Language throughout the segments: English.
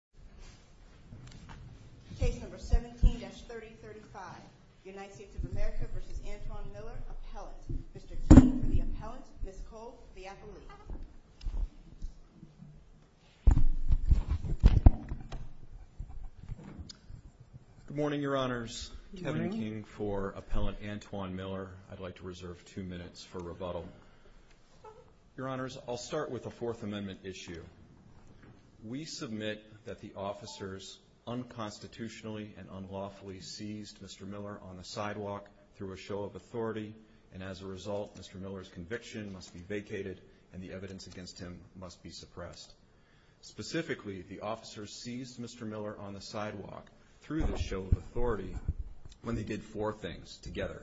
Appellate, Mr. King for the Appellant, Ms. Cole for the Appellant. Good morning, Your Honors. Good morning. Kevin King for Appellant Antoine Miller. I'd like to reserve two minutes for rebuttal. Your Honors, I'll start with the Fourth Amendment issue. We submit that the officers unconstitutionally and unlawfully seized Mr. Miller on the sidewalk through a show of authority, and as a result, Mr. Miller's conviction must be vacated and the evidence against him must be suppressed. Specifically, the officers seized Mr. Miller on the sidewalk through the show of authority when they did four things together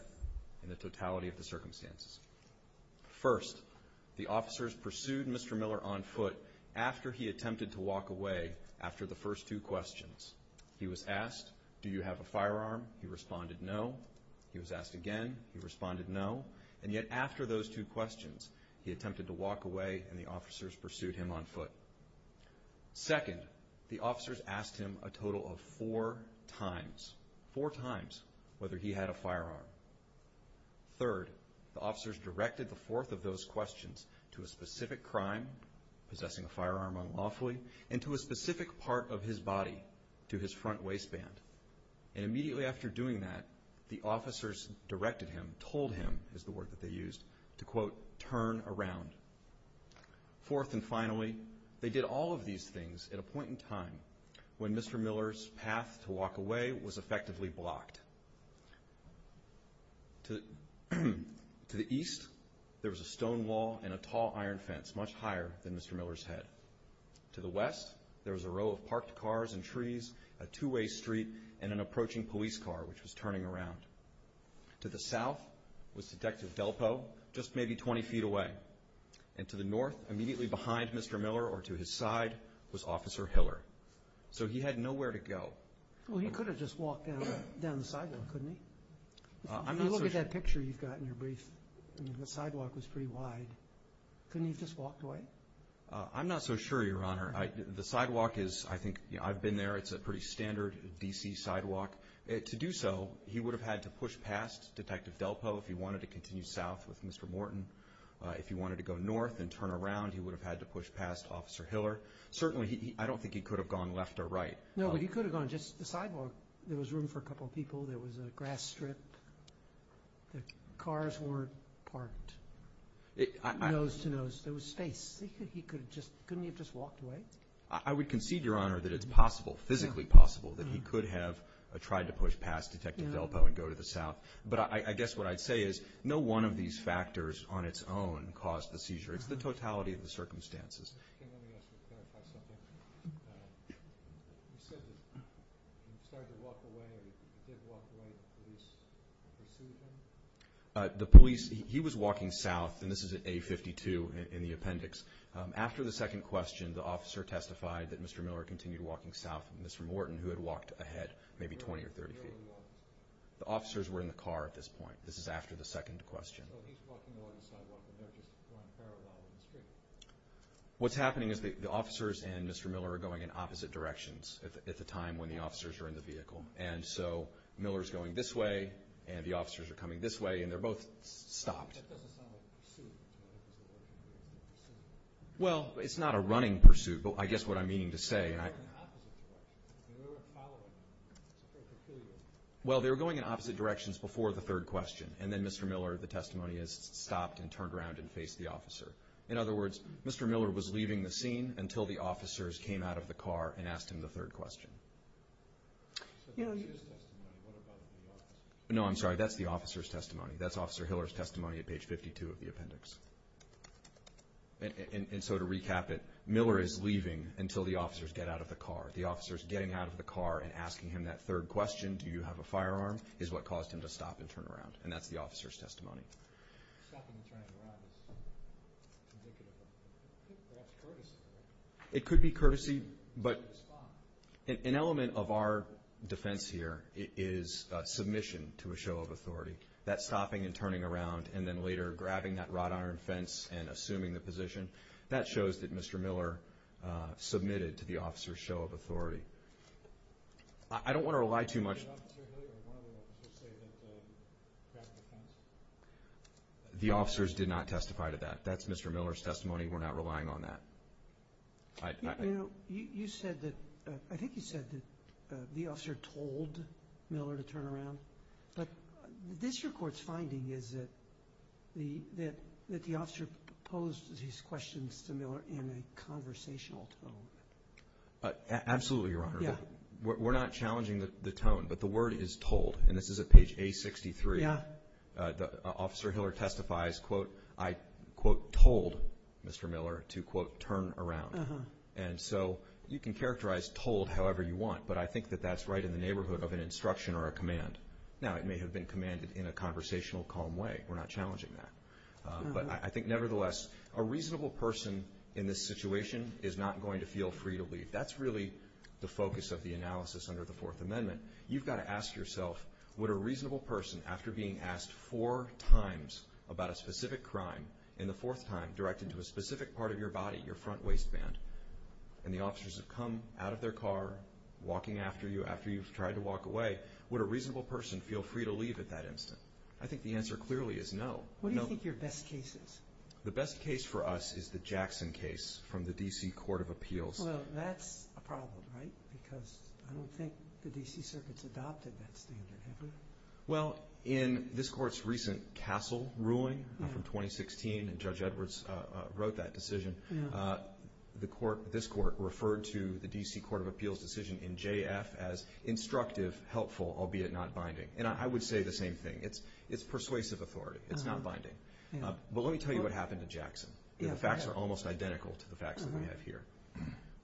in the totality of the circumstances. First, the officers pursued Mr. Miller on foot after he attempted to walk away after the first two questions. He was asked, do you have a firearm? He responded, no. He was asked again. He responded, no. And yet after those two questions, he attempted to walk away and the officers pursued him on foot. Second, the officers asked him a total of four times, four times, whether he had a firearm. Third, the officers directed the fourth of those questions to a specific crime, possessing a firearm unlawfully, and to a specific part of his body, to his front waistband. And immediately after doing that, the officers directed him, told him is the word that they used, to, quote, turn around. Fourth and finally, they did all of these things at a point in time when Mr. Miller's path to walk away was effectively blocked. To the east, there was a stone wall and a tall iron fence, much higher than Mr. Miller's head. To the west, there was a row of parked cars and trees, a two-way street, and an approaching police car, which was turning around. To the south was Detective Delpo, just maybe 20 feet away. And to the north, immediately behind Mr. Miller or to his side, was Officer Hiller. So he had nowhere to go. Well, he could have just walked down the sidewalk, couldn't he? If you look at that picture you've got in your brief, the sidewalk was pretty wide. Couldn't he have just walked away? I'm not so sure, Your Honor. The sidewalk is, I think, I've been there. It's a pretty standard D.C. sidewalk. To do so, he would have had to push past Detective Delpo if he wanted to continue south with Mr. Morton. If he wanted to go north and turn around, he would have had to push past Officer Hiller. Certainly, I don't think he could have gone left or right. No, but he could have gone just the sidewalk. There was room for a couple of people. There was a grass strip. The cars weren't parked nose-to-nose. There was space. Couldn't he have just walked away? I would concede, Your Honor, that it's possible, physically possible, that he could have tried to push past Detective Delpo and go to the south. But I guess what I'd say is no one of these factors on its own caused the seizure. It's the totality of the circumstances. Okay, let me ask you to clarify something. You said he started to walk away. He did walk away. The police received him? The police, he was walking south, and this is at A52 in the appendix. After the second question, the officer testified that Mr. Miller continued walking south and Mr. Morton, who had walked ahead maybe 20 or 30 feet. The officers were in the car at this point. This is after the second question. So he's walking along the sidewalk, and they're just going parallel in the street. What's happening is the officers and Mr. Miller are going in opposite directions at the time when the officers are in the vehicle. And so Miller's going this way, and the officers are coming this way, and they're both stopped. That doesn't sound like a pursuit. Well, it's not a running pursuit, but I guess what I'm meaning to say. They were going in opposite directions. They were following him. Well, they were going in opposite directions before the third question, and then Mr. Miller, the testimony is, stopped and turned around and faced the officer. In other words, Mr. Miller was leaving the scene until the officers came out of the car and asked him the third question. No, I'm sorry. That's the officer's testimony. That's Officer Hiller's testimony at page 52 of the appendix. And so to recap it, Miller is leaving until the officers get out of the car. The officers getting out of the car and asking him that third question, do you have a firearm, is what caused him to stop and turn around. And that's the officer's testimony. It could be courtesy, but an element of our defense here is submission to a show of authority. That stopping and turning around and then later grabbing that wrought iron fence and assuming the position, that shows that Mr. Miller submitted to the officer's show of authority. I don't want to rely too much. The officers did not testify to that. That's Mr. Miller's testimony. We're not relying on that. You said that, I think you said that the officer told Miller to turn around. But this report's finding is that the officer posed these questions to Miller in a conversational tone. Absolutely, Your Honor. We're not challenging the tone, but the word is told. And this is at page A63. Officer Hiller testifies, quote, I, quote, told Mr. Miller to, quote, turn around. And so you can characterize told however you want, but I think that that's right in the neighborhood of an instruction or a command. Now, it may have been commanded in a conversational, calm way. We're not challenging that. But I think, nevertheless, a reasonable person in this situation is not going to feel free to leave. That's really the focus of the analysis under the Fourth Amendment. You've got to ask yourself, would a reasonable person, after being asked four times about a specific crime in the fourth time directed to a specific part of your body, your front waistband, and the officers have come out of their car, walking after you, after you've tried to walk away, would a reasonable person feel free to leave at that instant? I think the answer clearly is no. What do you think your best case is? The best case for us is the Jackson case from the D.C. Court of Appeals. Well, that's a problem, right? Because I don't think the D.C. Circuit's adopted that standard, have we? Well, in this court's recent Castle ruling from 2016, and Judge Edwards wrote that decision, this court referred to the D.C. Court of Appeals decision in J.F. as instructive, helpful, albeit not binding. And I would say the same thing. It's persuasive authority. It's not binding. But let me tell you what happened to Jackson. The facts are almost identical to the facts that we have here.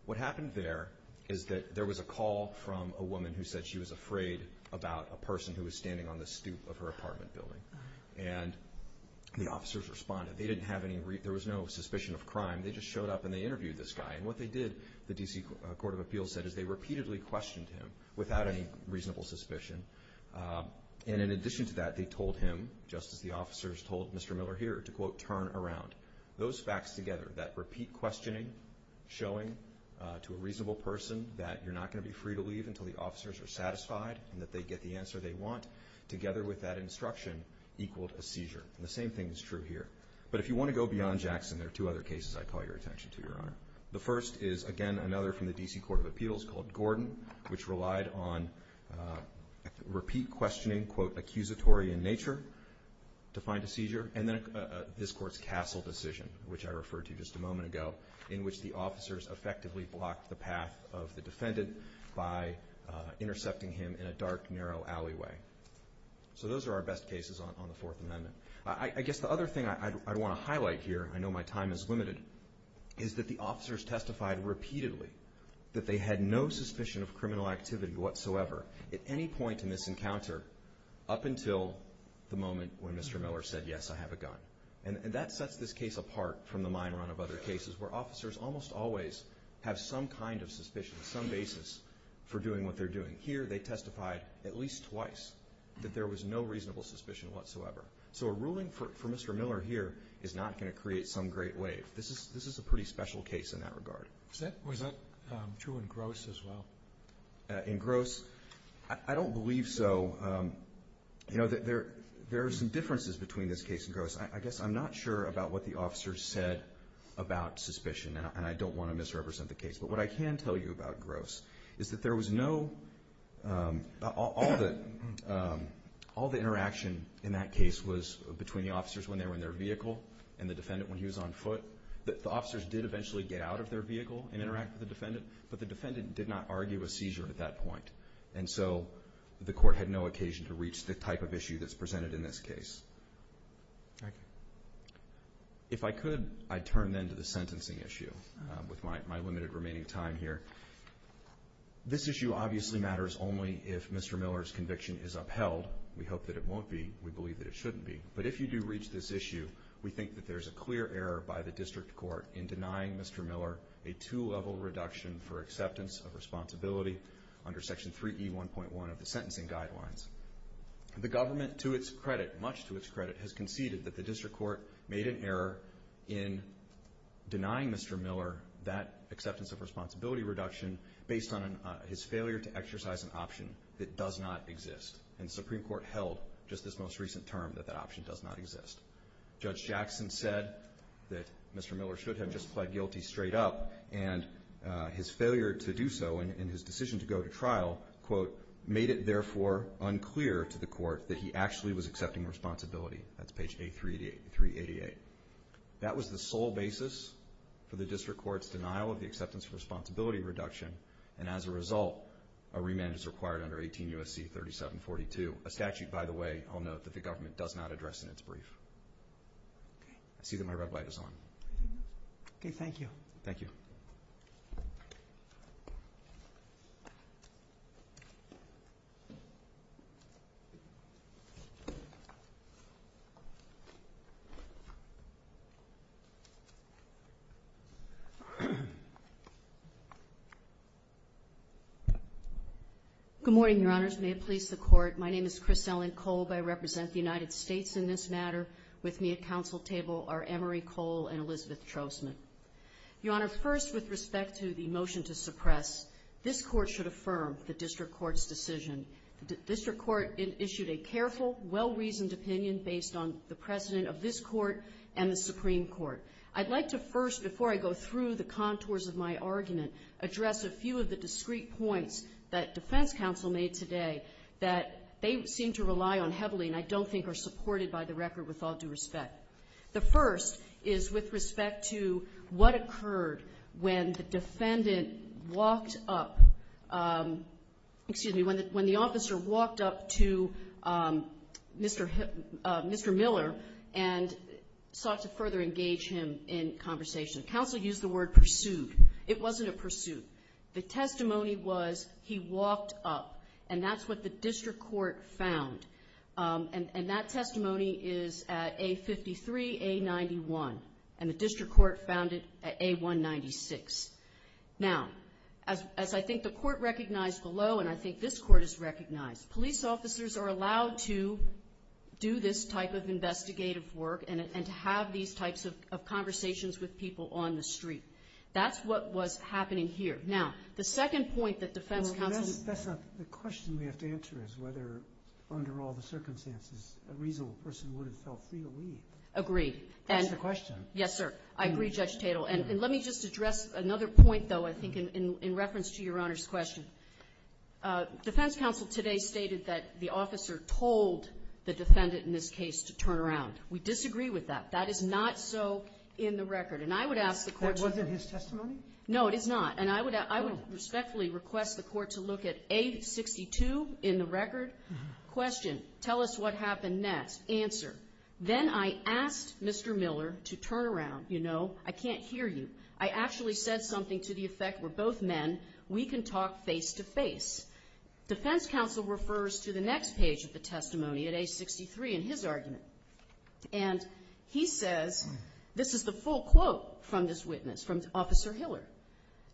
What happened there is that there was a call from a woman who said she was afraid about a person who was standing on the stoop of her apartment building. And the officers responded. They didn't have any reason. There was no suspicion of crime. They just showed up and they interviewed this guy. And what they did, the D.C. Court of Appeals said, is they repeatedly questioned him without any reasonable suspicion. And in addition to that, they told him, just as the officers told Mr. Miller here, to, quote, turn around. Those facts together, that repeat questioning, showing to a reasonable person that you're not going to be free to leave until the officers are satisfied and that they get the answer they want, together with that instruction, equaled a seizure. And the same thing is true here. But if you want to go beyond Jackson, there are two other cases I'd call your attention to, Your Honor. The first is, again, another from the D.C. Court of Appeals called Gordon, which relied on repeat questioning, quote, accusatory in nature, to find a seizure. And then this Court's Castle decision, which I referred to just a moment ago, in which the officers effectively blocked the path of the defendant by intercepting him in a dark, narrow alleyway. So those are our best cases on the Fourth Amendment. I guess the other thing I'd want to highlight here, I know my time is limited, is that the officers testified repeatedly that they had no suspicion of criminal activity whatsoever at any point in this encounter up until the moment when Mr. Miller said, yes, I have a gun. And that sets this case apart from the mine run of other cases where officers almost always have some kind of suspicion, some basis for doing what they're doing. Here, they testified at least twice that there was no reasonable suspicion whatsoever. So a ruling for Mr. Miller here is not going to create some great wave. This is a pretty special case in that regard. Was that true in Gross as well? In Gross, I don't believe so. You know, there are some differences between this case and Gross. I guess I'm not sure about what the officers said about suspicion, and I don't want to misrepresent the case. But what I can tell you about Gross is that there was no ñ all the interaction in that case was between the officers when they were in their vehicle and the defendant when he was on foot. The officers did eventually get out of their vehicle and interact with the defendant, but the defendant did not argue a seizure at that point. And so the court had no occasion to reach the type of issue that's presented in this case. Thank you. If I could, I'd turn then to the sentencing issue with my limited remaining time here. This issue obviously matters only if Mr. Miller's conviction is upheld. We hope that it won't be. We believe that it shouldn't be. But if you do reach this issue, we think that there's a clear error by the district court in denying Mr. Miller a two-level reduction for acceptance of responsibility under Section 3E1.1 of the sentencing guidelines. The government, to its credit, much to its credit, has conceded that the district court made an error in denying Mr. Miller that acceptance of responsibility reduction based on his failure to exercise an option that does not exist. And the Supreme Court held just this most recent term that that option does not exist. Judge Jackson said that Mr. Miller should have just pled guilty straight up, and his failure to do so in his decision to go to trial, quote, made it therefore unclear to the court that he actually was accepting responsibility. That's page 388. That was the sole basis for the district court's denial of the acceptance of responsibility reduction, and as a result, a remand is required under 18 U.S.C. 3742, a statute, by the way, I'll note, that the government does not address in its brief. I see that my red light is on. Okay, thank you. Thank you. Good morning, Your Honors. May it please the Court, my name is Chris Ellen Kolb. I represent the United States in this matter. With me at council table are Emory Kohl and Elizabeth Trostman. Your Honor, first, with respect to the motion to suppress, this court should affirm the district court's decision. The district court issued a careful, well-reasoned opinion based on the precedent of this court and the Supreme Court. I'd like to first, before I go through the contours of my argument, address a few of the discrete points that defense counsel made today that they seem to rely on heavily and I don't think are supported by the record with all due respect. The first is with respect to what occurred when the defendant walked up, excuse me, when the officer walked up to Mr. Miller and sought to further engage him in conversation. Counsel used the word pursued. It wasn't a pursuit. The testimony was he walked up, and that's what the district court found. And that testimony is at A53, A91, and the district court found it at A196. Now, as I think the court recognized below and I think this court has recognized, police officers are allowed to do this type of investigative work and to have these types of conversations with people on the street. That's what was happening here. Now, the second point that defense counsel ---- That's not the question we have to answer is whether, under all the circumstances, a reasonable person would have felt free to leave. Agreed. That's the question. Yes, sir. I agree, Judge Tatel. And let me just address another point, though, I think in reference to Your Honor's question. Defense counsel today stated that the officer told the defendant in this case to turn around. We disagree with that. That is not so in the record. And I would ask the court to ---- That wasn't his testimony? No, it is not. And I would respectfully request the court to look at A62 in the record. Question. Tell us what happened next. Answer. Then I asked Mr. Miller to turn around. You know, I can't hear you. I actually said something to the effect, we're both men, we can talk face-to-face. Defense counsel refers to the next page of the testimony at A63 in his argument. And he says, this is the full quote from this witness, from Officer Hiller.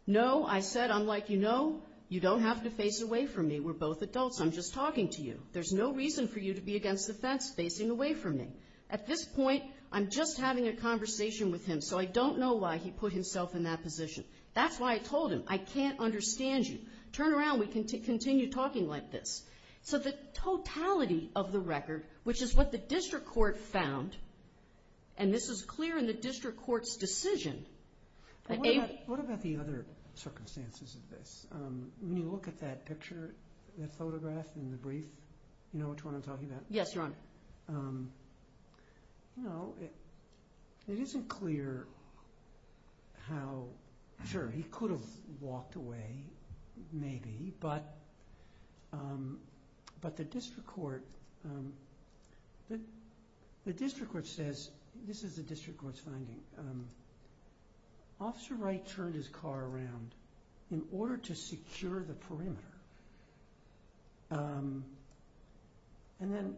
No, I said, I'm like, you know, you don't have to face away from me. We're both adults. I'm just talking to you. There's no reason for you to be against the fence facing away from me. At this point, I'm just having a conversation with him, so I don't know why he put himself in that position. That's why I told him, I can't understand you. Turn around, we can continue talking like this. So the totality of the record, which is what the district court found, and this is clear in the district court's decision. What about the other circumstances of this? When you look at that picture, that photograph in the brief, you know which one I'm talking about? Yes, Your Honor. No, it isn't clear how, sure, he could have walked away, maybe, but the district court says, this is the district court's finding. Officer Wright turned his car around in order to secure the perimeter. And then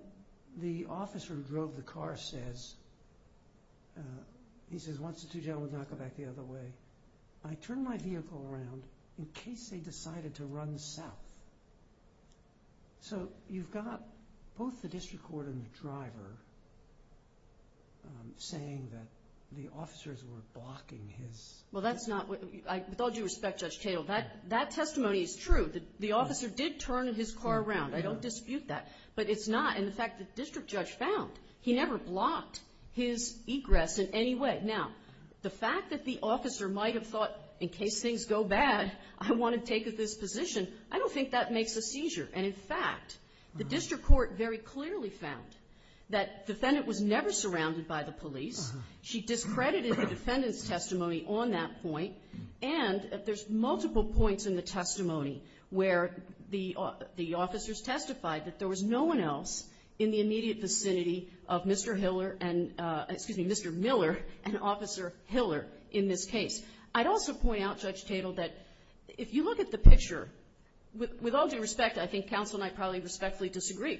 the officer who drove the car says, he says, once the two gentlemen would not go back the other way, I turned my vehicle around in case they decided to run south. So you've got both the district court and the driver saying that the officers were blocking his. Well, that's not, with all due respect, Judge Cato, that testimony is true. The officer did turn his car around. I don't dispute that. But it's not, and the fact that the district judge found, he never blocked his egress in any way. Now, the fact that the officer might have thought, in case things go bad, I want to take this position, I don't think that makes a seizure. And, in fact, the district court very clearly found that the defendant was never surrounded by the police. She discredited the defendant's testimony on that point. And there's multiple points in the testimony where the officers testified that there was no one else in the immediate vicinity of Mr. Miller and Officer Hiller in this case. I'd also point out, Judge Cato, that if you look at the picture, with all due respect, I think counsel and I probably respectfully disagree.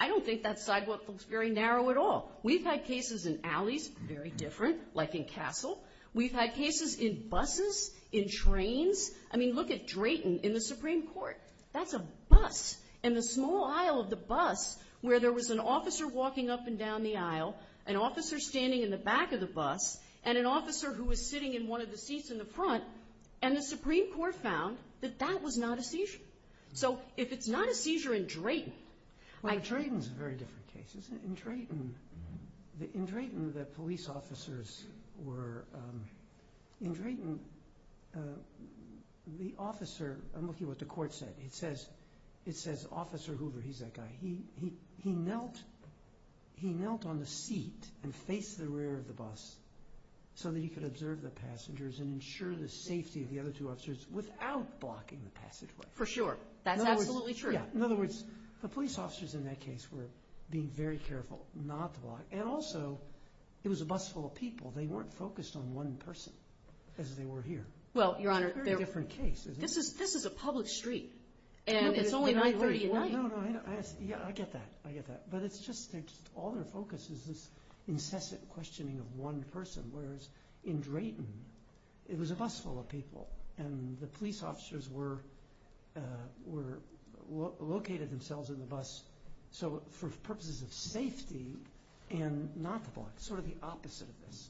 I don't think that sidewalk looks very narrow at all. We've had cases in alleys, very different, like in Castle. We've had cases in buses, in trains. I mean, look at Drayton in the Supreme Court. That's a bus. In the small aisle of the bus, where there was an officer walking up and down the aisle, an officer standing in the back of the bus, and an officer who was sitting in one of the seats in the front, and the Supreme Court found that that was not a seizure. So if it's not a seizure in Drayton. Well, Drayton's a very different case, isn't it? In Drayton, the police officers were – in Drayton, the officer – I'm looking at what the court said. It says Officer Hoover, he's that guy. He knelt on the seat and faced the rear of the bus so that he could observe the passengers and ensure the safety of the other two officers without blocking the passageway. For sure. That's absolutely true. Yeah. In other words, the police officers in that case were being very careful not to block. And also, it was a bus full of people. They weren't focused on one person as they were here. Well, Your Honor – It's a very different case, isn't it? This is a public street, and it's only 9.30 at night. No, no, no. I get that. I get that. But it's just – all their focus is this incessant questioning of one person, whereas in Drayton, it was a bus full of people, and the police officers were – located themselves in the bus for purposes of safety and not to block. Sort of the opposite of this.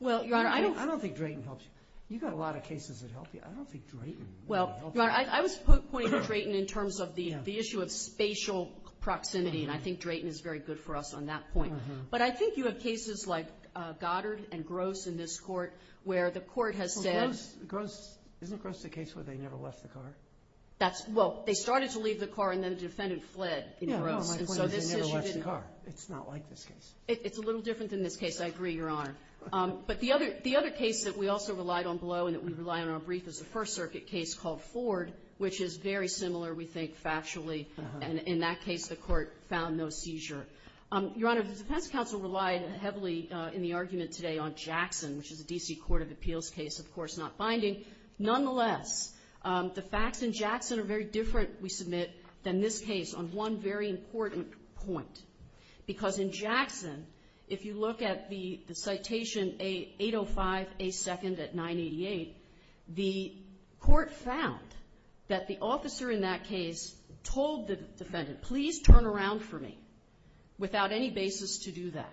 Well, Your Honor, I don't – I don't think Drayton helps you. You've got a lot of cases that help you. I don't think Drayton really helps you. Well, Your Honor, I was pointing to Drayton in terms of the issue of spatial proximity, and I think Drayton is very good for us on that point. But I think you have cases like Goddard and Gross in this court where the court has said – Isn't Gross the case where they never left the car? That's – well, they started to leave the car, and then the defendant fled in Gross. Yeah, well, my point is they never left the car. It's not like this case. It's a little different than this case. I agree, Your Honor. But the other case that we also relied on below and that we rely on in our brief is a First Circuit case called Ford, which is very similar, we think, factually. And in that case, the court found no seizure. Your Honor, the defense counsel relied heavily in the argument today on Jackson, which is a D.C. Court of Appeals case, of course not binding. Nonetheless, the facts in Jackson are very different, we submit, than this case on one very important point. Because in Jackson, if you look at the citation 805A2nd at 988, the court found that the officer in that case told the defendant, please turn around for me, without any basis to do that.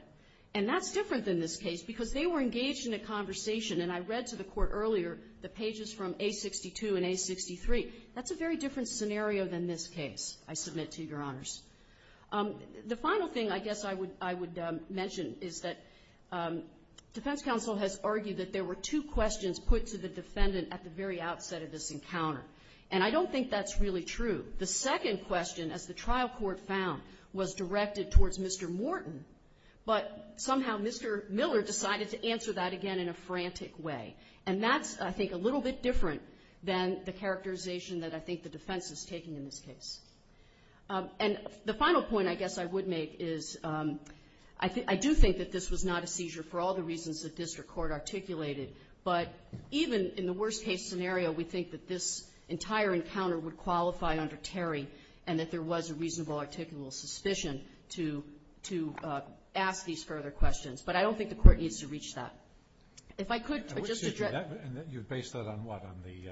And that's different than this case because they were engaged in a conversation. And I read to the court earlier the pages from A62 and A63. That's a very different scenario than this case, I submit to Your Honors. The final thing I guess I would mention is that defense counsel has argued that there were two questions put to the defendant at the very outset of this encounter. And I don't think that's really true. The second question, as the trial court found, was directed towards Mr. Morton, but somehow Mr. Miller decided to answer that again in a frantic way. And that's, I think, a little bit different than the characterization that I think the defense is taking in this case. And the final point I guess I would make is I do think that this was not a seizure for all the reasons that district court articulated, but even in the worst-case scenario, we think that this entire encounter would qualify under Terry and that there was a reasonable articulal suspicion to ask these further questions. But I don't think the court needs to reach that. If I could just address that. And you base that on what, on the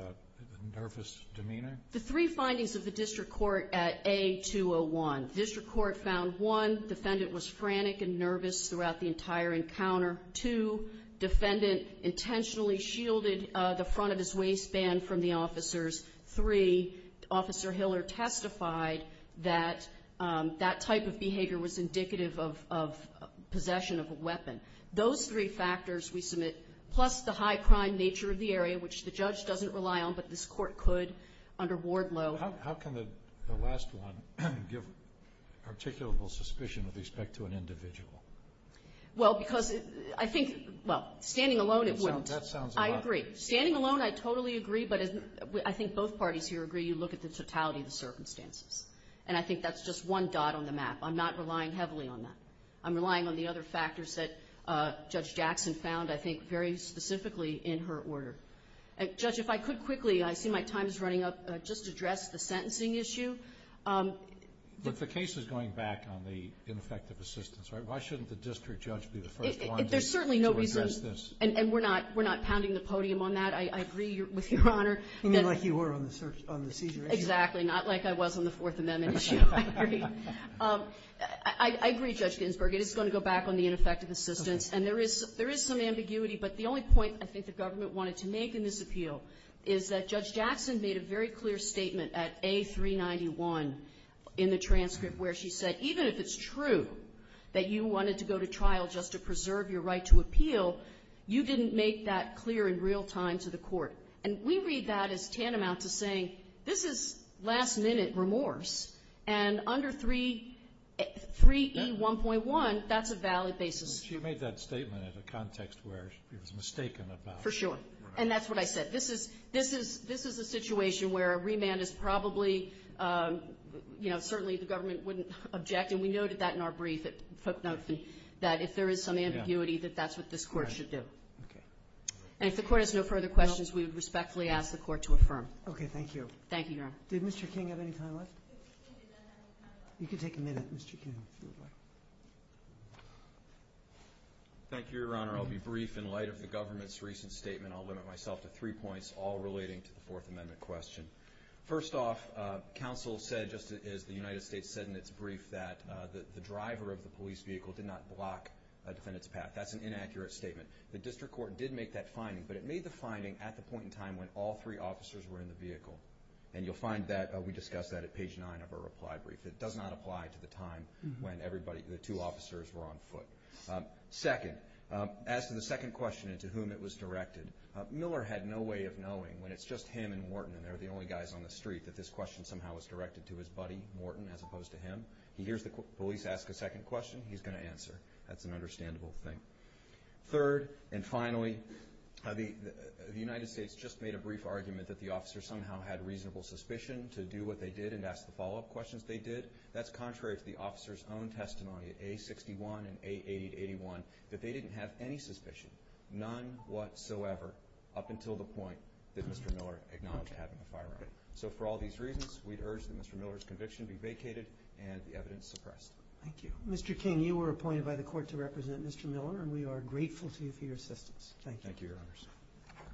nervous demeanor? The three findings of the district court at A201. District court found, one, defendant was frantic and nervous throughout the entire encounter. Two, defendant intentionally shielded the front of his waistband from the officers. Three, Officer Hiller testified that that type of behavior was indicative of possession of a weapon. Those three factors we submit, plus the high crime nature of the area, which the judge doesn't rely on, but this court could under Wardlow. How can the last one give articulable suspicion with respect to an individual? Well, because I think, well, standing alone it wouldn't. That sounds a lot better. I agree. I think both parties here agree you look at the totality of the circumstances. And I think that's just one dot on the map. I'm not relying heavily on that. I'm relying on the other factors that Judge Jackson found, I think, very specifically in her order. Judge, if I could quickly, I see my time is running up, just address the sentencing issue. If the case is going back on the ineffective assistance, why shouldn't the district judge be the first one to address this? There's certainly no reason, and we're not pounding the podium on that. I agree with Your Honor. You mean like you were on the seizure issue? Exactly. Not like I was on the Fourth Amendment issue. I agree. I agree, Judge Ginsburg. It is going to go back on the ineffective assistance. Okay. And there is some ambiguity, but the only point I think the government wanted to make in this appeal is that Judge Jackson made a very clear statement at A391 in the transcript where she said, even if it's true that you wanted to go to trial just to preserve your right to appeal, you didn't make that clear in real time to the I think that is tantamount to saying, this is last-minute remorse, and under 3E1.1, that's a valid basis. She made that statement in a context where she was mistaken about it. For sure. And that's what I said. This is a situation where a remand is probably, you know, certainly the government wouldn't object, and we noted that in our brief, that if there is some ambiguity, that that's what this Court should do. Okay. And if the Court has no further questions, we would respectfully ask the Court to affirm. Okay. Thank you. Thank you, Your Honor. Did Mr. King have any time left? You can take a minute, Mr. King. Thank you, Your Honor. I'll be brief in light of the government's recent statement. I'll limit myself to three points, all relating to the Fourth Amendment question. First off, counsel said, just as the United States said in its brief, that the driver of the police vehicle did not block a defendant's path. That's an inaccurate statement. The district court did make that finding, but it made the finding at the point in time when all three officers were in the vehicle. And you'll find that we discussed that at page nine of our reply brief. It does not apply to the time when the two officers were on foot. Second, as to the second question and to whom it was directed, Miller had no way of knowing when it's just him and Morton and they're the only guys on the street, that this question somehow was directed to his buddy, Morton, as opposed to him. He hears the police ask a second question, he's going to answer. That's an understandable thing. Third, and finally, the United States just made a brief argument that the officers somehow had reasonable suspicion to do what they did and ask the follow-up questions they did. That's contrary to the officers' own testimony at A61 and A881, that they didn't have any suspicion, none whatsoever, up until the point that Mr. Miller acknowledged having a firearm. So for all these reasons, we'd urge that Mr. Miller's conviction be vacated and the evidence suppressed. Thank you. Mr. King, you were appointed by the court to represent Mr. Miller and we are grateful to you for your assistance. Thank you. Thank you, Your Honor.